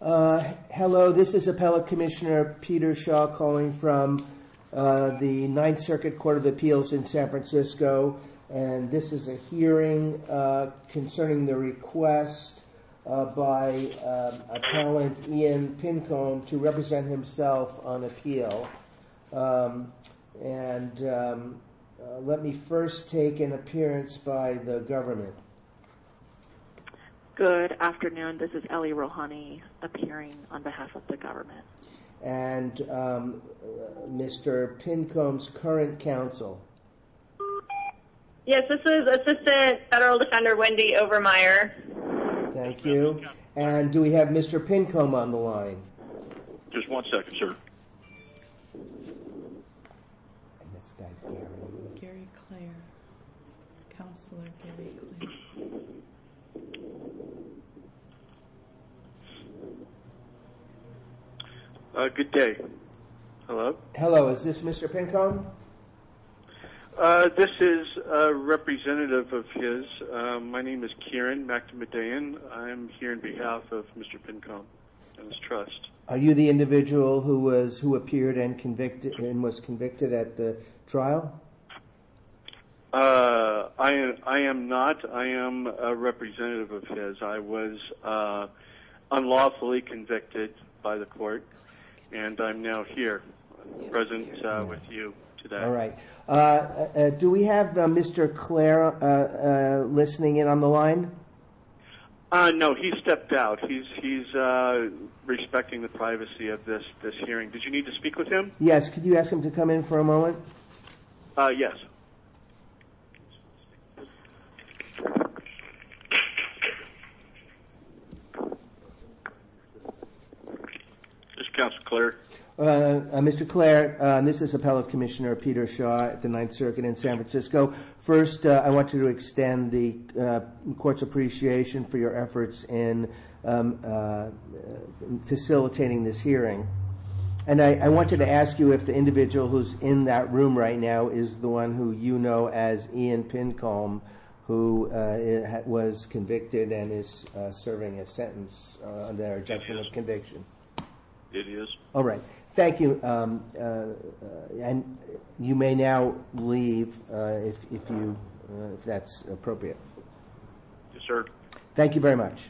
Hello, this is Appellate Commissioner Peter Shaw calling from the Ninth Circuit Court of Appeals in San Francisco and this is a hearing concerning the request by appellant Ian Pincombe to represent himself on appeal and let me first take an appearance by the government. Good afternoon, this is Ellie Rohani appearing on behalf of the government. And Mr. Pincombe's current counsel. Yes, this is Assistant Federal Defender Wendy Overmeyer. Thank you. And do we have Mr. Pincombe on the line? Just one second, sir. Gary Clare, Counselor Gary Clare. Good day. Hello. Hello, is this Mr. Pincombe? This is a representative of his. My name is Kieran McNamidean. I'm here on behalf of Mr. Pincombe and his trust. Are you the individual who appeared and was convicted at the trial? I am not. I am a representative of his. I was unlawfully convicted by the court and I'm now here present with you today. All right. Do we have Mr. Clare listening in on the line? No, he stepped out. He's respecting the privacy of this hearing. Did you need to speak with him? Yes. Could you ask him to come in for a moment? Yes. This is Counselor Clare. Mr. Clare, this is Appellate Commissioner Peter Shaw at the Ninth Circuit in San Francisco. First, I want you to extend the court's appreciation for your efforts in facilitating this hearing. And I wanted to ask you if the individual who's in that room right now is the one who you know as Ian Pincombe, who was convicted and is serving a sentence on the objection of conviction. It is. All right. Thank you. And you may now leave if that's appropriate. Yes, sir. Thank you very much.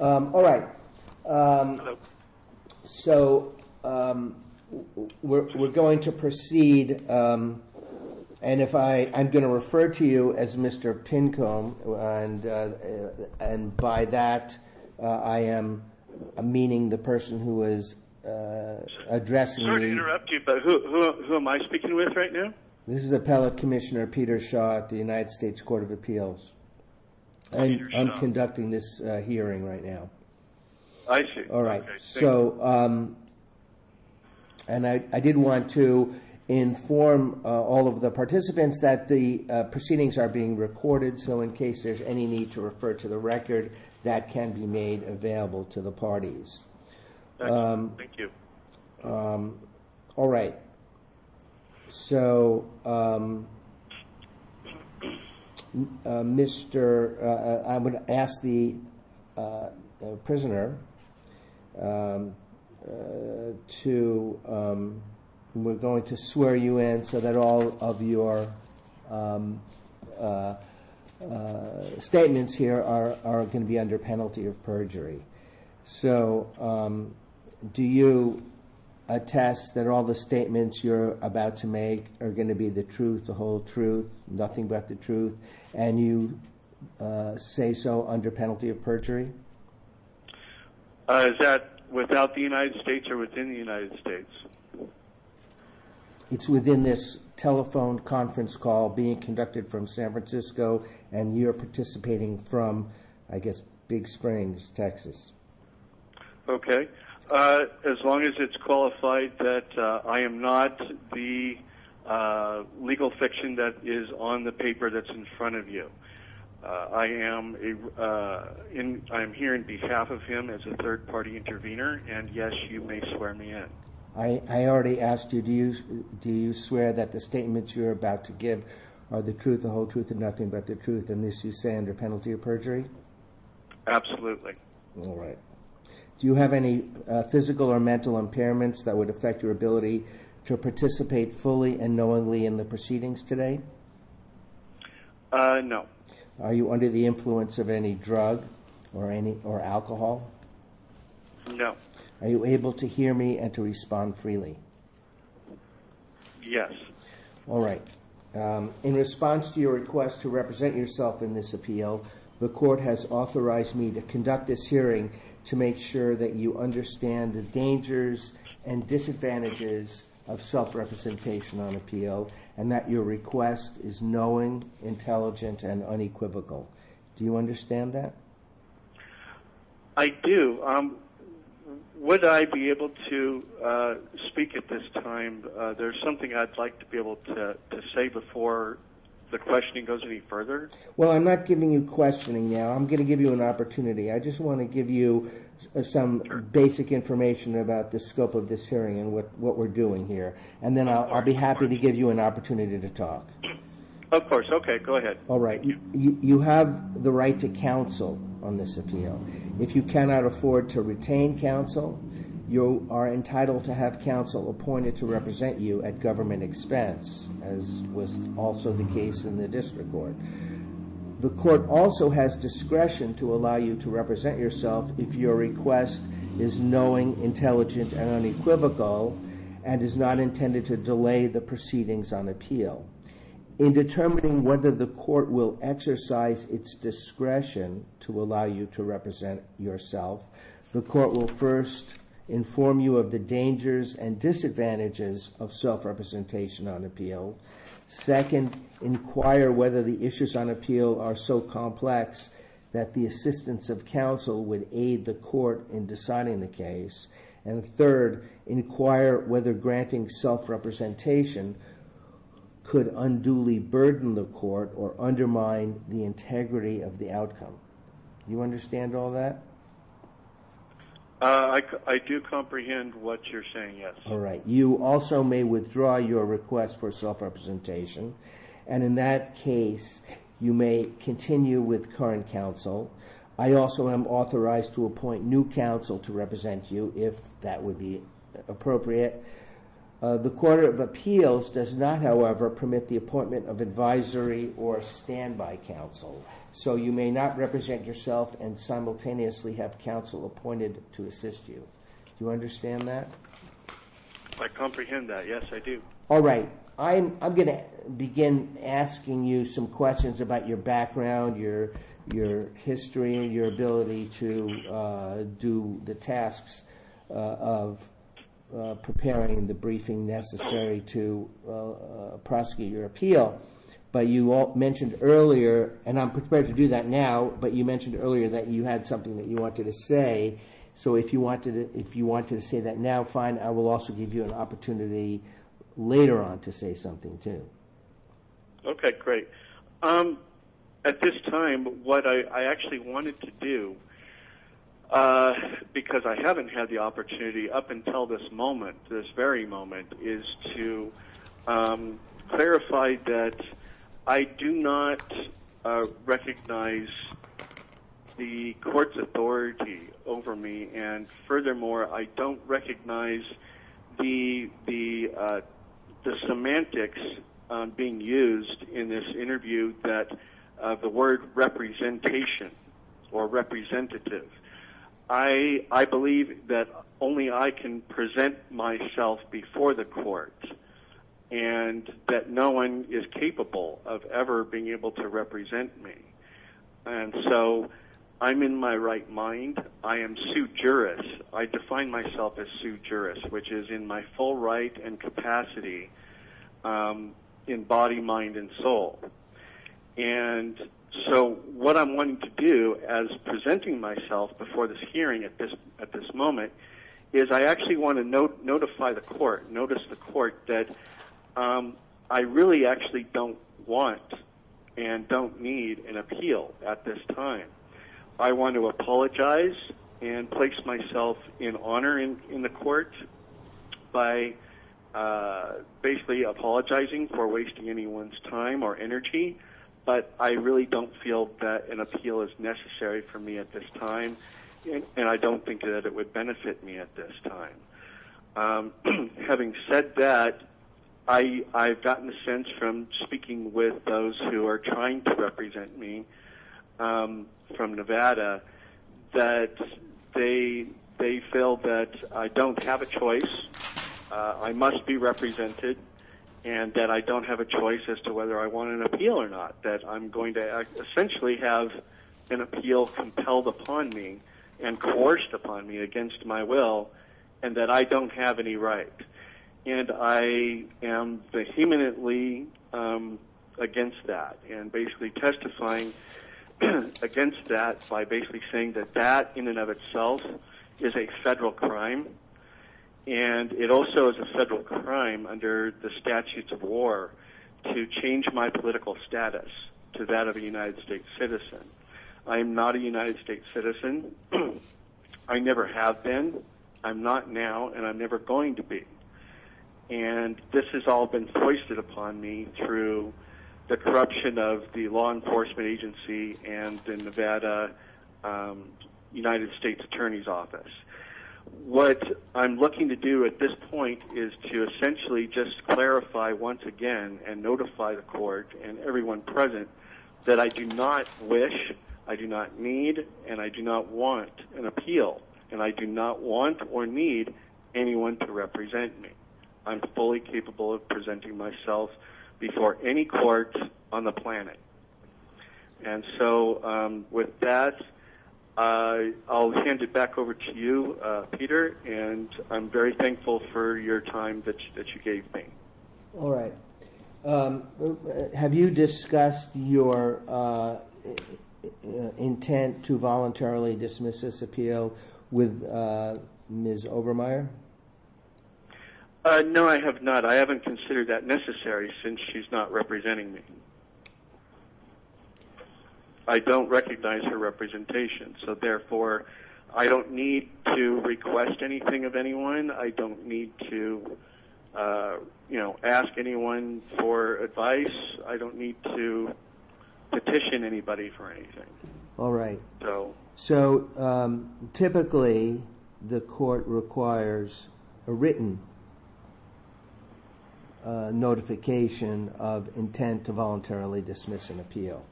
All right. So we're going to proceed. And I'm going to refer to you as Mr. Pincombe. And by that, I am meaning the person who is addressing you. Sorry to interrupt you, but who am I speaking with right now? This is Appellate Commissioner Peter Shaw at the United States Court of Appeals. I'm conducting this hearing right now. I see. All right. And I did want to inform all of the participants that the proceedings are being recorded. So in case there's any need to refer to the record, that can be made available to the parties. Thank you. All right. So, Mr. I would ask the prisoner to we're going to swear you in so that all of your statements here are going to be under penalty of perjury. So do you attest that all the statements you're about to make are going to be the truth, the whole truth, nothing but the truth, and you say so under penalty of perjury? Is that without the United States or within the United States? It's within this telephone conference call being conducted from San Francisco, and you're participating from, I guess, Big Springs, Texas. Okay. As long as it's qualified that I am not the legal fiction that is on the paper that's in front of you. I am here in behalf of him as a third-party intervener, and yes, you may swear me in. I already asked you, do you swear that the statements you're about to give are the truth, the whole truth, and nothing but the truth, and this you say under penalty of perjury? Absolutely. All right. Do you have any physical or mental impairments that would affect your ability to participate fully and knowingly in the proceedings today? No. Are you under the influence of any drug or alcohol? No. Are you able to hear me and to respond freely? Yes. All right. In response to your request to represent yourself in this appeal, the court has authorized me to conduct this hearing to make sure that you understand the dangers and disadvantages of self-representation on appeal and that your request is knowing, intelligent, and unequivocal. Do you understand that? I do. Would I be able to speak at this time? There's something I'd like to be able to say before the questioning goes any further. Well, I'm not giving you questioning now. I'm going to give you an opportunity. I just want to give you some basic information about the scope of this hearing and what we're doing here, and then I'll be happy to give you an opportunity to talk. Of course. Okay, go ahead. All right. You have the right to counsel on this appeal. If you cannot afford to retain counsel, you are entitled to have counsel appointed to represent you at government expense, as was also the case in the district court. The court also has discretion to allow you to represent yourself if your request is knowing, intelligent, and unequivocal and is not intended to delay the proceedings on appeal. In determining whether the court will exercise its discretion to allow you to represent yourself, the court will first inform you of the dangers and disadvantages of self-representation on appeal, second, inquire whether the issues on appeal are so complex that the assistance of counsel would aid the court in deciding the case, and third, inquire whether granting self-representation could unduly burden the court or undermine the integrity of the outcome. Do you understand all that? I do comprehend what you're saying, yes. All right. You also may withdraw your request for self-representation, and in that case, you may continue with current counsel. I also am authorized to appoint new counsel to represent you, if that would be appropriate. The Court of Appeals does not, however, permit the appointment of advisory or standby counsel, so you may not represent yourself and simultaneously have counsel appointed to assist you. Do you understand that? I comprehend that, yes, I do. All right. I'm going to begin asking you some questions about your background, your history, and your ability to do the tasks of preparing the briefing necessary to prosecute your appeal. But you mentioned earlier, and I'm prepared to do that now, but you mentioned earlier that you had something that you wanted to say. So if you wanted to say that now, fine. I will also give you an opportunity later on to say something, too. Okay, great. At this time, what I actually wanted to do, because I haven't had the opportunity up until this moment, this very moment, is to clarify that I do not recognize the court's authority over me, and furthermore, I don't recognize the semantics being used in this interview, the word representation or representative. I believe that only I can present myself before the court and that no one is capable of ever being able to represent me. And so I'm in my right mind. I am sujurist. I define myself as sujurist, which is in my full right and capacity in body, mind, and soul. And so what I'm wanting to do as presenting myself before this hearing at this moment is I actually want to notify the court, notice the court, that I really actually don't want and don't need an appeal at this time. I want to apologize and place myself in honor in the court by basically apologizing for wasting anyone's time or energy, but I really don't feel that an appeal is necessary for me at this time, and I don't think that it would benefit me at this time. Having said that, I've gotten a sense from speaking with those who are trying to represent me from Nevada that they feel that I don't have a choice, I must be represented, and that I don't have a choice as to whether I want an appeal or not, that I'm going to essentially have an appeal compelled upon me and coerced upon me against my will and that I don't have any right. And I am vehemently against that and basically testifying against that by basically saying that that in and of itself is a federal crime, and it also is a federal crime under the statutes of war to change my political status to that of a United States citizen. I am not a United States citizen. I never have been. I'm not now, and I'm never going to be. And this has all been foisted upon me through the corruption of the law enforcement agency and the Nevada United States Attorney's Office. What I'm looking to do at this point is to essentially just clarify once again and notify the court and everyone present that I do not wish, I do not need, and I do not want an appeal, and I do not want or need anyone to represent me. I'm fully capable of presenting myself before any court on the planet. And so with that, I'll hand it back over to you, Peter, and I'm very thankful for your time that you gave me. All right. Have you discussed your intent to voluntarily dismiss this appeal with Ms. Overmyer? No, I have not. I haven't considered that necessary since she's not representing me. I don't recognize her representation, so therefore I don't need to request anything of anyone. I don't need to ask anyone for advice. I don't need to petition anybody for anything. All right. So typically the court requires a written notification of intent to voluntarily dismiss an appeal.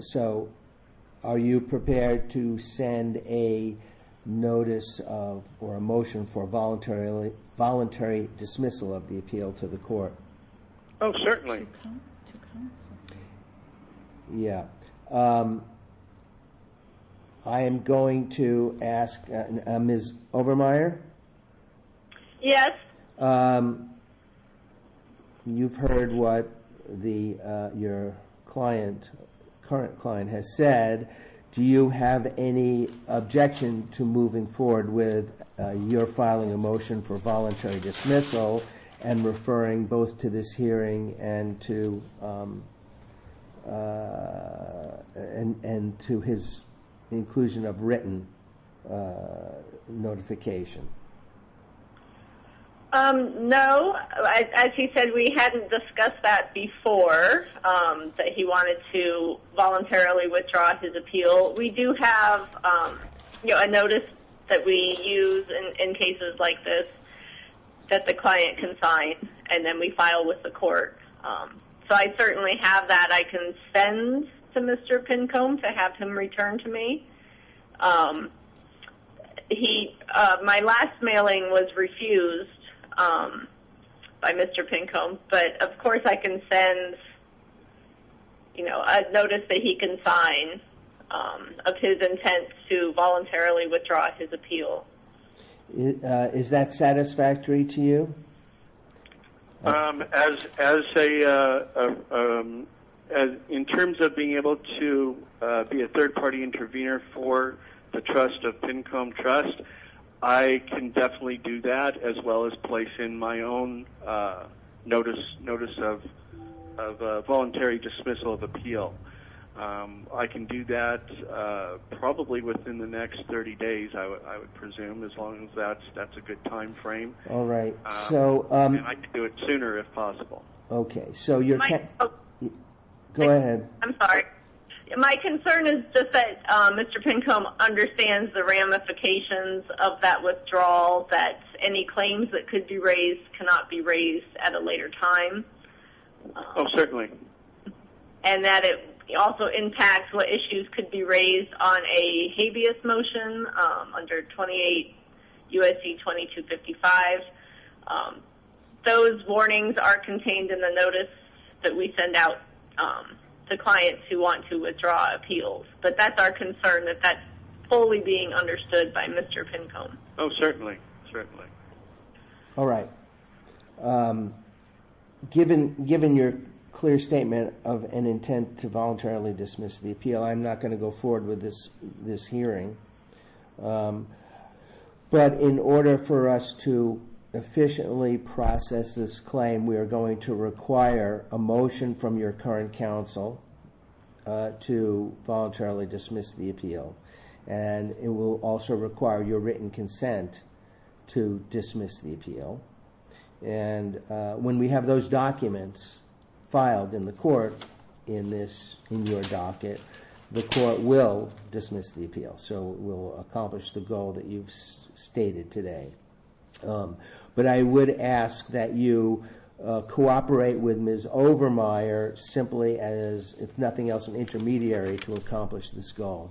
So are you prepared to send a notice or a motion for voluntary dismissal of the appeal to the court? Oh, certainly. Yeah. I am going to ask Ms. Overmyer? Yes. You've heard what your current client has said. Do you have any objection to moving forward with your filing a motion for voluntary dismissal and referring both to this hearing and to his inclusion of written notification? No. As he said, we hadn't discussed that before, that he wanted to voluntarily withdraw his appeal. Well, we do have a notice that we use in cases like this that the client can sign, and then we file with the court. So I certainly have that. I can send to Mr. Pincone to have him return to me. My last mailing was refused by Mr. Pincone, but, of course, I can send a notice that he can sign of his intent to voluntarily withdraw his appeal. Is that satisfactory to you? In terms of being able to be a third-party intervener for the trust of Pincone Trust, I can definitely do that, as well as place in my own notice of voluntary dismissal of appeal. I can do that probably within the next 30 days, I would presume, as long as that's a good time frame. All right. I'd like to do it sooner, if possible. Okay. Go ahead. I'm sorry. My concern is just that Mr. Pincone understands the ramifications of that withdrawal, that any claims that could be raised cannot be raised at a later time. Oh, certainly. And that it also impacts what issues could be raised on a habeas motion under 28 U.S.C. 2255. Those warnings are contained in the notice that we send out to clients who want to withdraw appeals. But that's our concern, that that's fully being understood by Mr. Pincone. Oh, certainly, certainly. All right. Given your clear statement of an intent to voluntarily dismiss the appeal, I'm not going to go forward with this hearing. But in order for us to efficiently process this claim, we are going to require a motion from your current counsel to voluntarily dismiss the appeal. And it will also require your written consent to dismiss the appeal. And when we have those documents filed in the court in your docket, the court will dismiss the appeal. So it will accomplish the goal that you've stated today. But I would ask that you cooperate with Ms. Overmeyer simply as, if nothing else, an intermediary to accomplish this goal.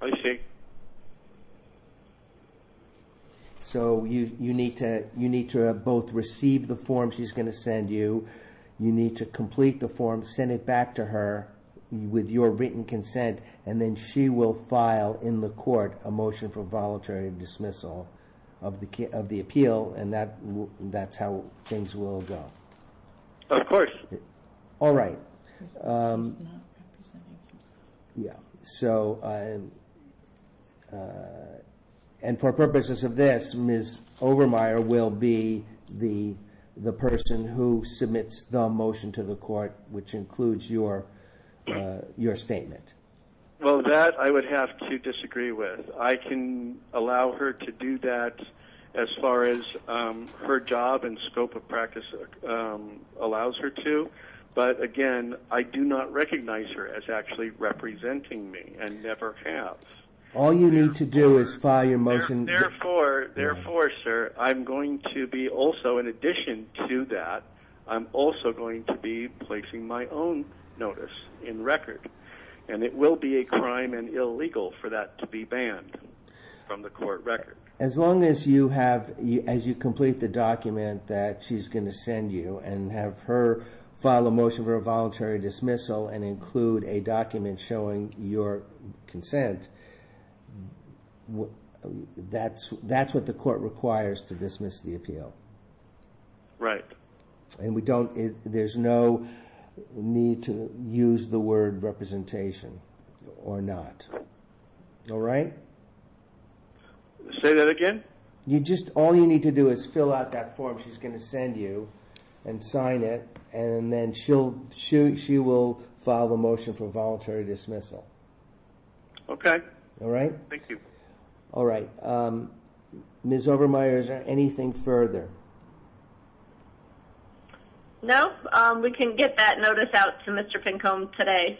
I see. So you need to both receive the form she's going to send you, you need to complete the form, send it back to her with your written consent, and then she will file in the court a motion for voluntary dismissal of the appeal. And that's how things will go. Of course. All right. So, and for purposes of this, Ms. Overmeyer will be the person who submits the motion to the court, which includes your statement. Well, that I would have to disagree with. I can allow her to do that as far as her job and scope of practice allows her to. But, again, I do not recognize her as actually representing me and never have. All you need to do is file your motion. Therefore, sir, I'm going to be also, in addition to that, I'm also going to be placing my own notice in record. And it will be a crime and illegal for that to be banned from the court record. As long as you have, as you complete the document that she's going to send you and have her file a motion for a voluntary dismissal and include a document showing your consent, that's what the court requires to dismiss the appeal. Right. And we don't, there's no need to use the word representation or not. All right? Say that again? You just, all you need to do is fill out that form she's going to send you and sign it. And then she will file a motion for voluntary dismissal. Okay. All right? Thank you. All right. Ms. Obermeyer, is there anything further? No. We can get that notice out to Mr. Pincone today.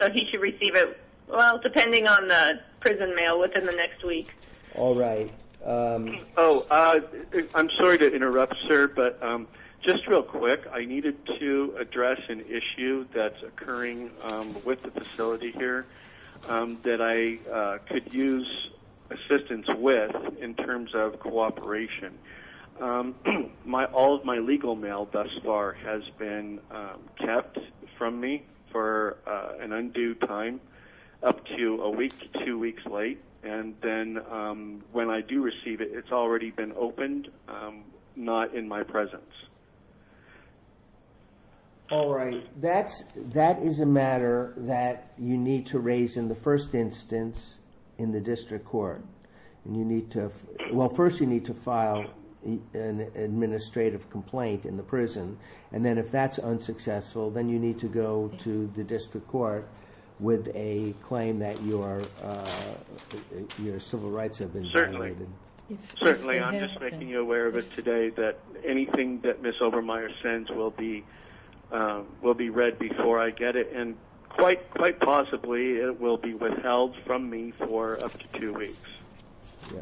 So he should receive it, well, depending on the prison mail within the next week. All right. Oh, I'm sorry to interrupt, sir, but just real quick, I needed to address an issue that's occurring with the facility here that I could use assistance with in terms of cooperation. All of my legal mail thus far has been kept from me for an undue time up to a week, two weeks late, and then when I do receive it, it's already been opened, not in my presence. All right. That is a matter that you need to raise in the first instance in the district court. And you need to, well, first you need to file an administrative complaint in the prison, and then if that's unsuccessful, then you need to go to the district court with a claim that your civil rights have been violated. Certainly. I'm just making you aware of it today that anything that Ms. Obermeyer sends will be read before I get it, and quite possibly it will be withheld from me for up to two weeks.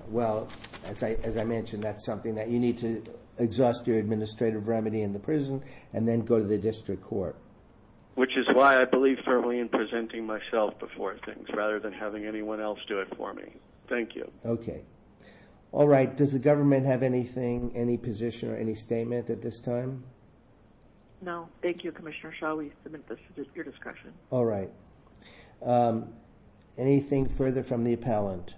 Well, as I mentioned, that's something that you need to exhaust your administrative remedy in the prison and then go to the district court. Which is why I believe firmly in presenting myself before things rather than having anyone else do it for me. Thank you. Okay. All right. Does the government have anything, any position or any statement at this time? No. Thank you, Commissioner. Shall we submit this to your discussion? All right. Anything further from the appellant?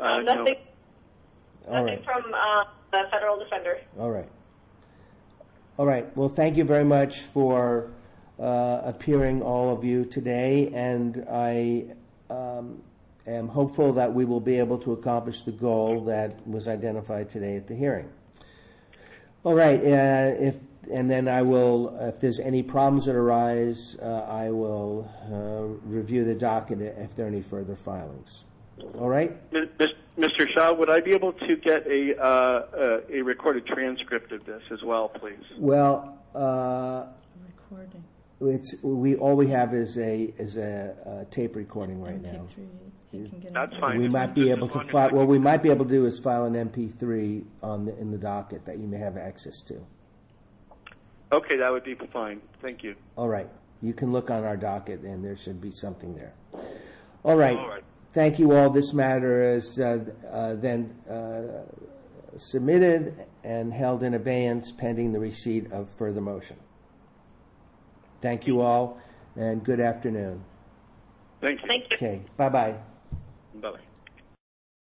Nothing from the federal defender. All right. Well, thank you very much for appearing, all of you, today, and I am hopeful that we will be able to accomplish the goal that was identified today at the hearing. All right. And then I will, if there's any problems that arise, I will review the docket if there are any further filings. All right? Mr. Shaw, would I be able to get a recorded transcript of this as well, please? Well, all we have is a tape recording right now. That's fine. What we might be able to do is file an MP3 in the docket that you may have access to. Okay. That would be fine. Thank you. All right. You can look on our docket, and there should be something there. All right. Thank you all. This matter is then submitted and held in abeyance pending the receipt of further motion. Thank you all, and good afternoon. Thank you. Thank you. Okay. Bye-bye. Bye-bye.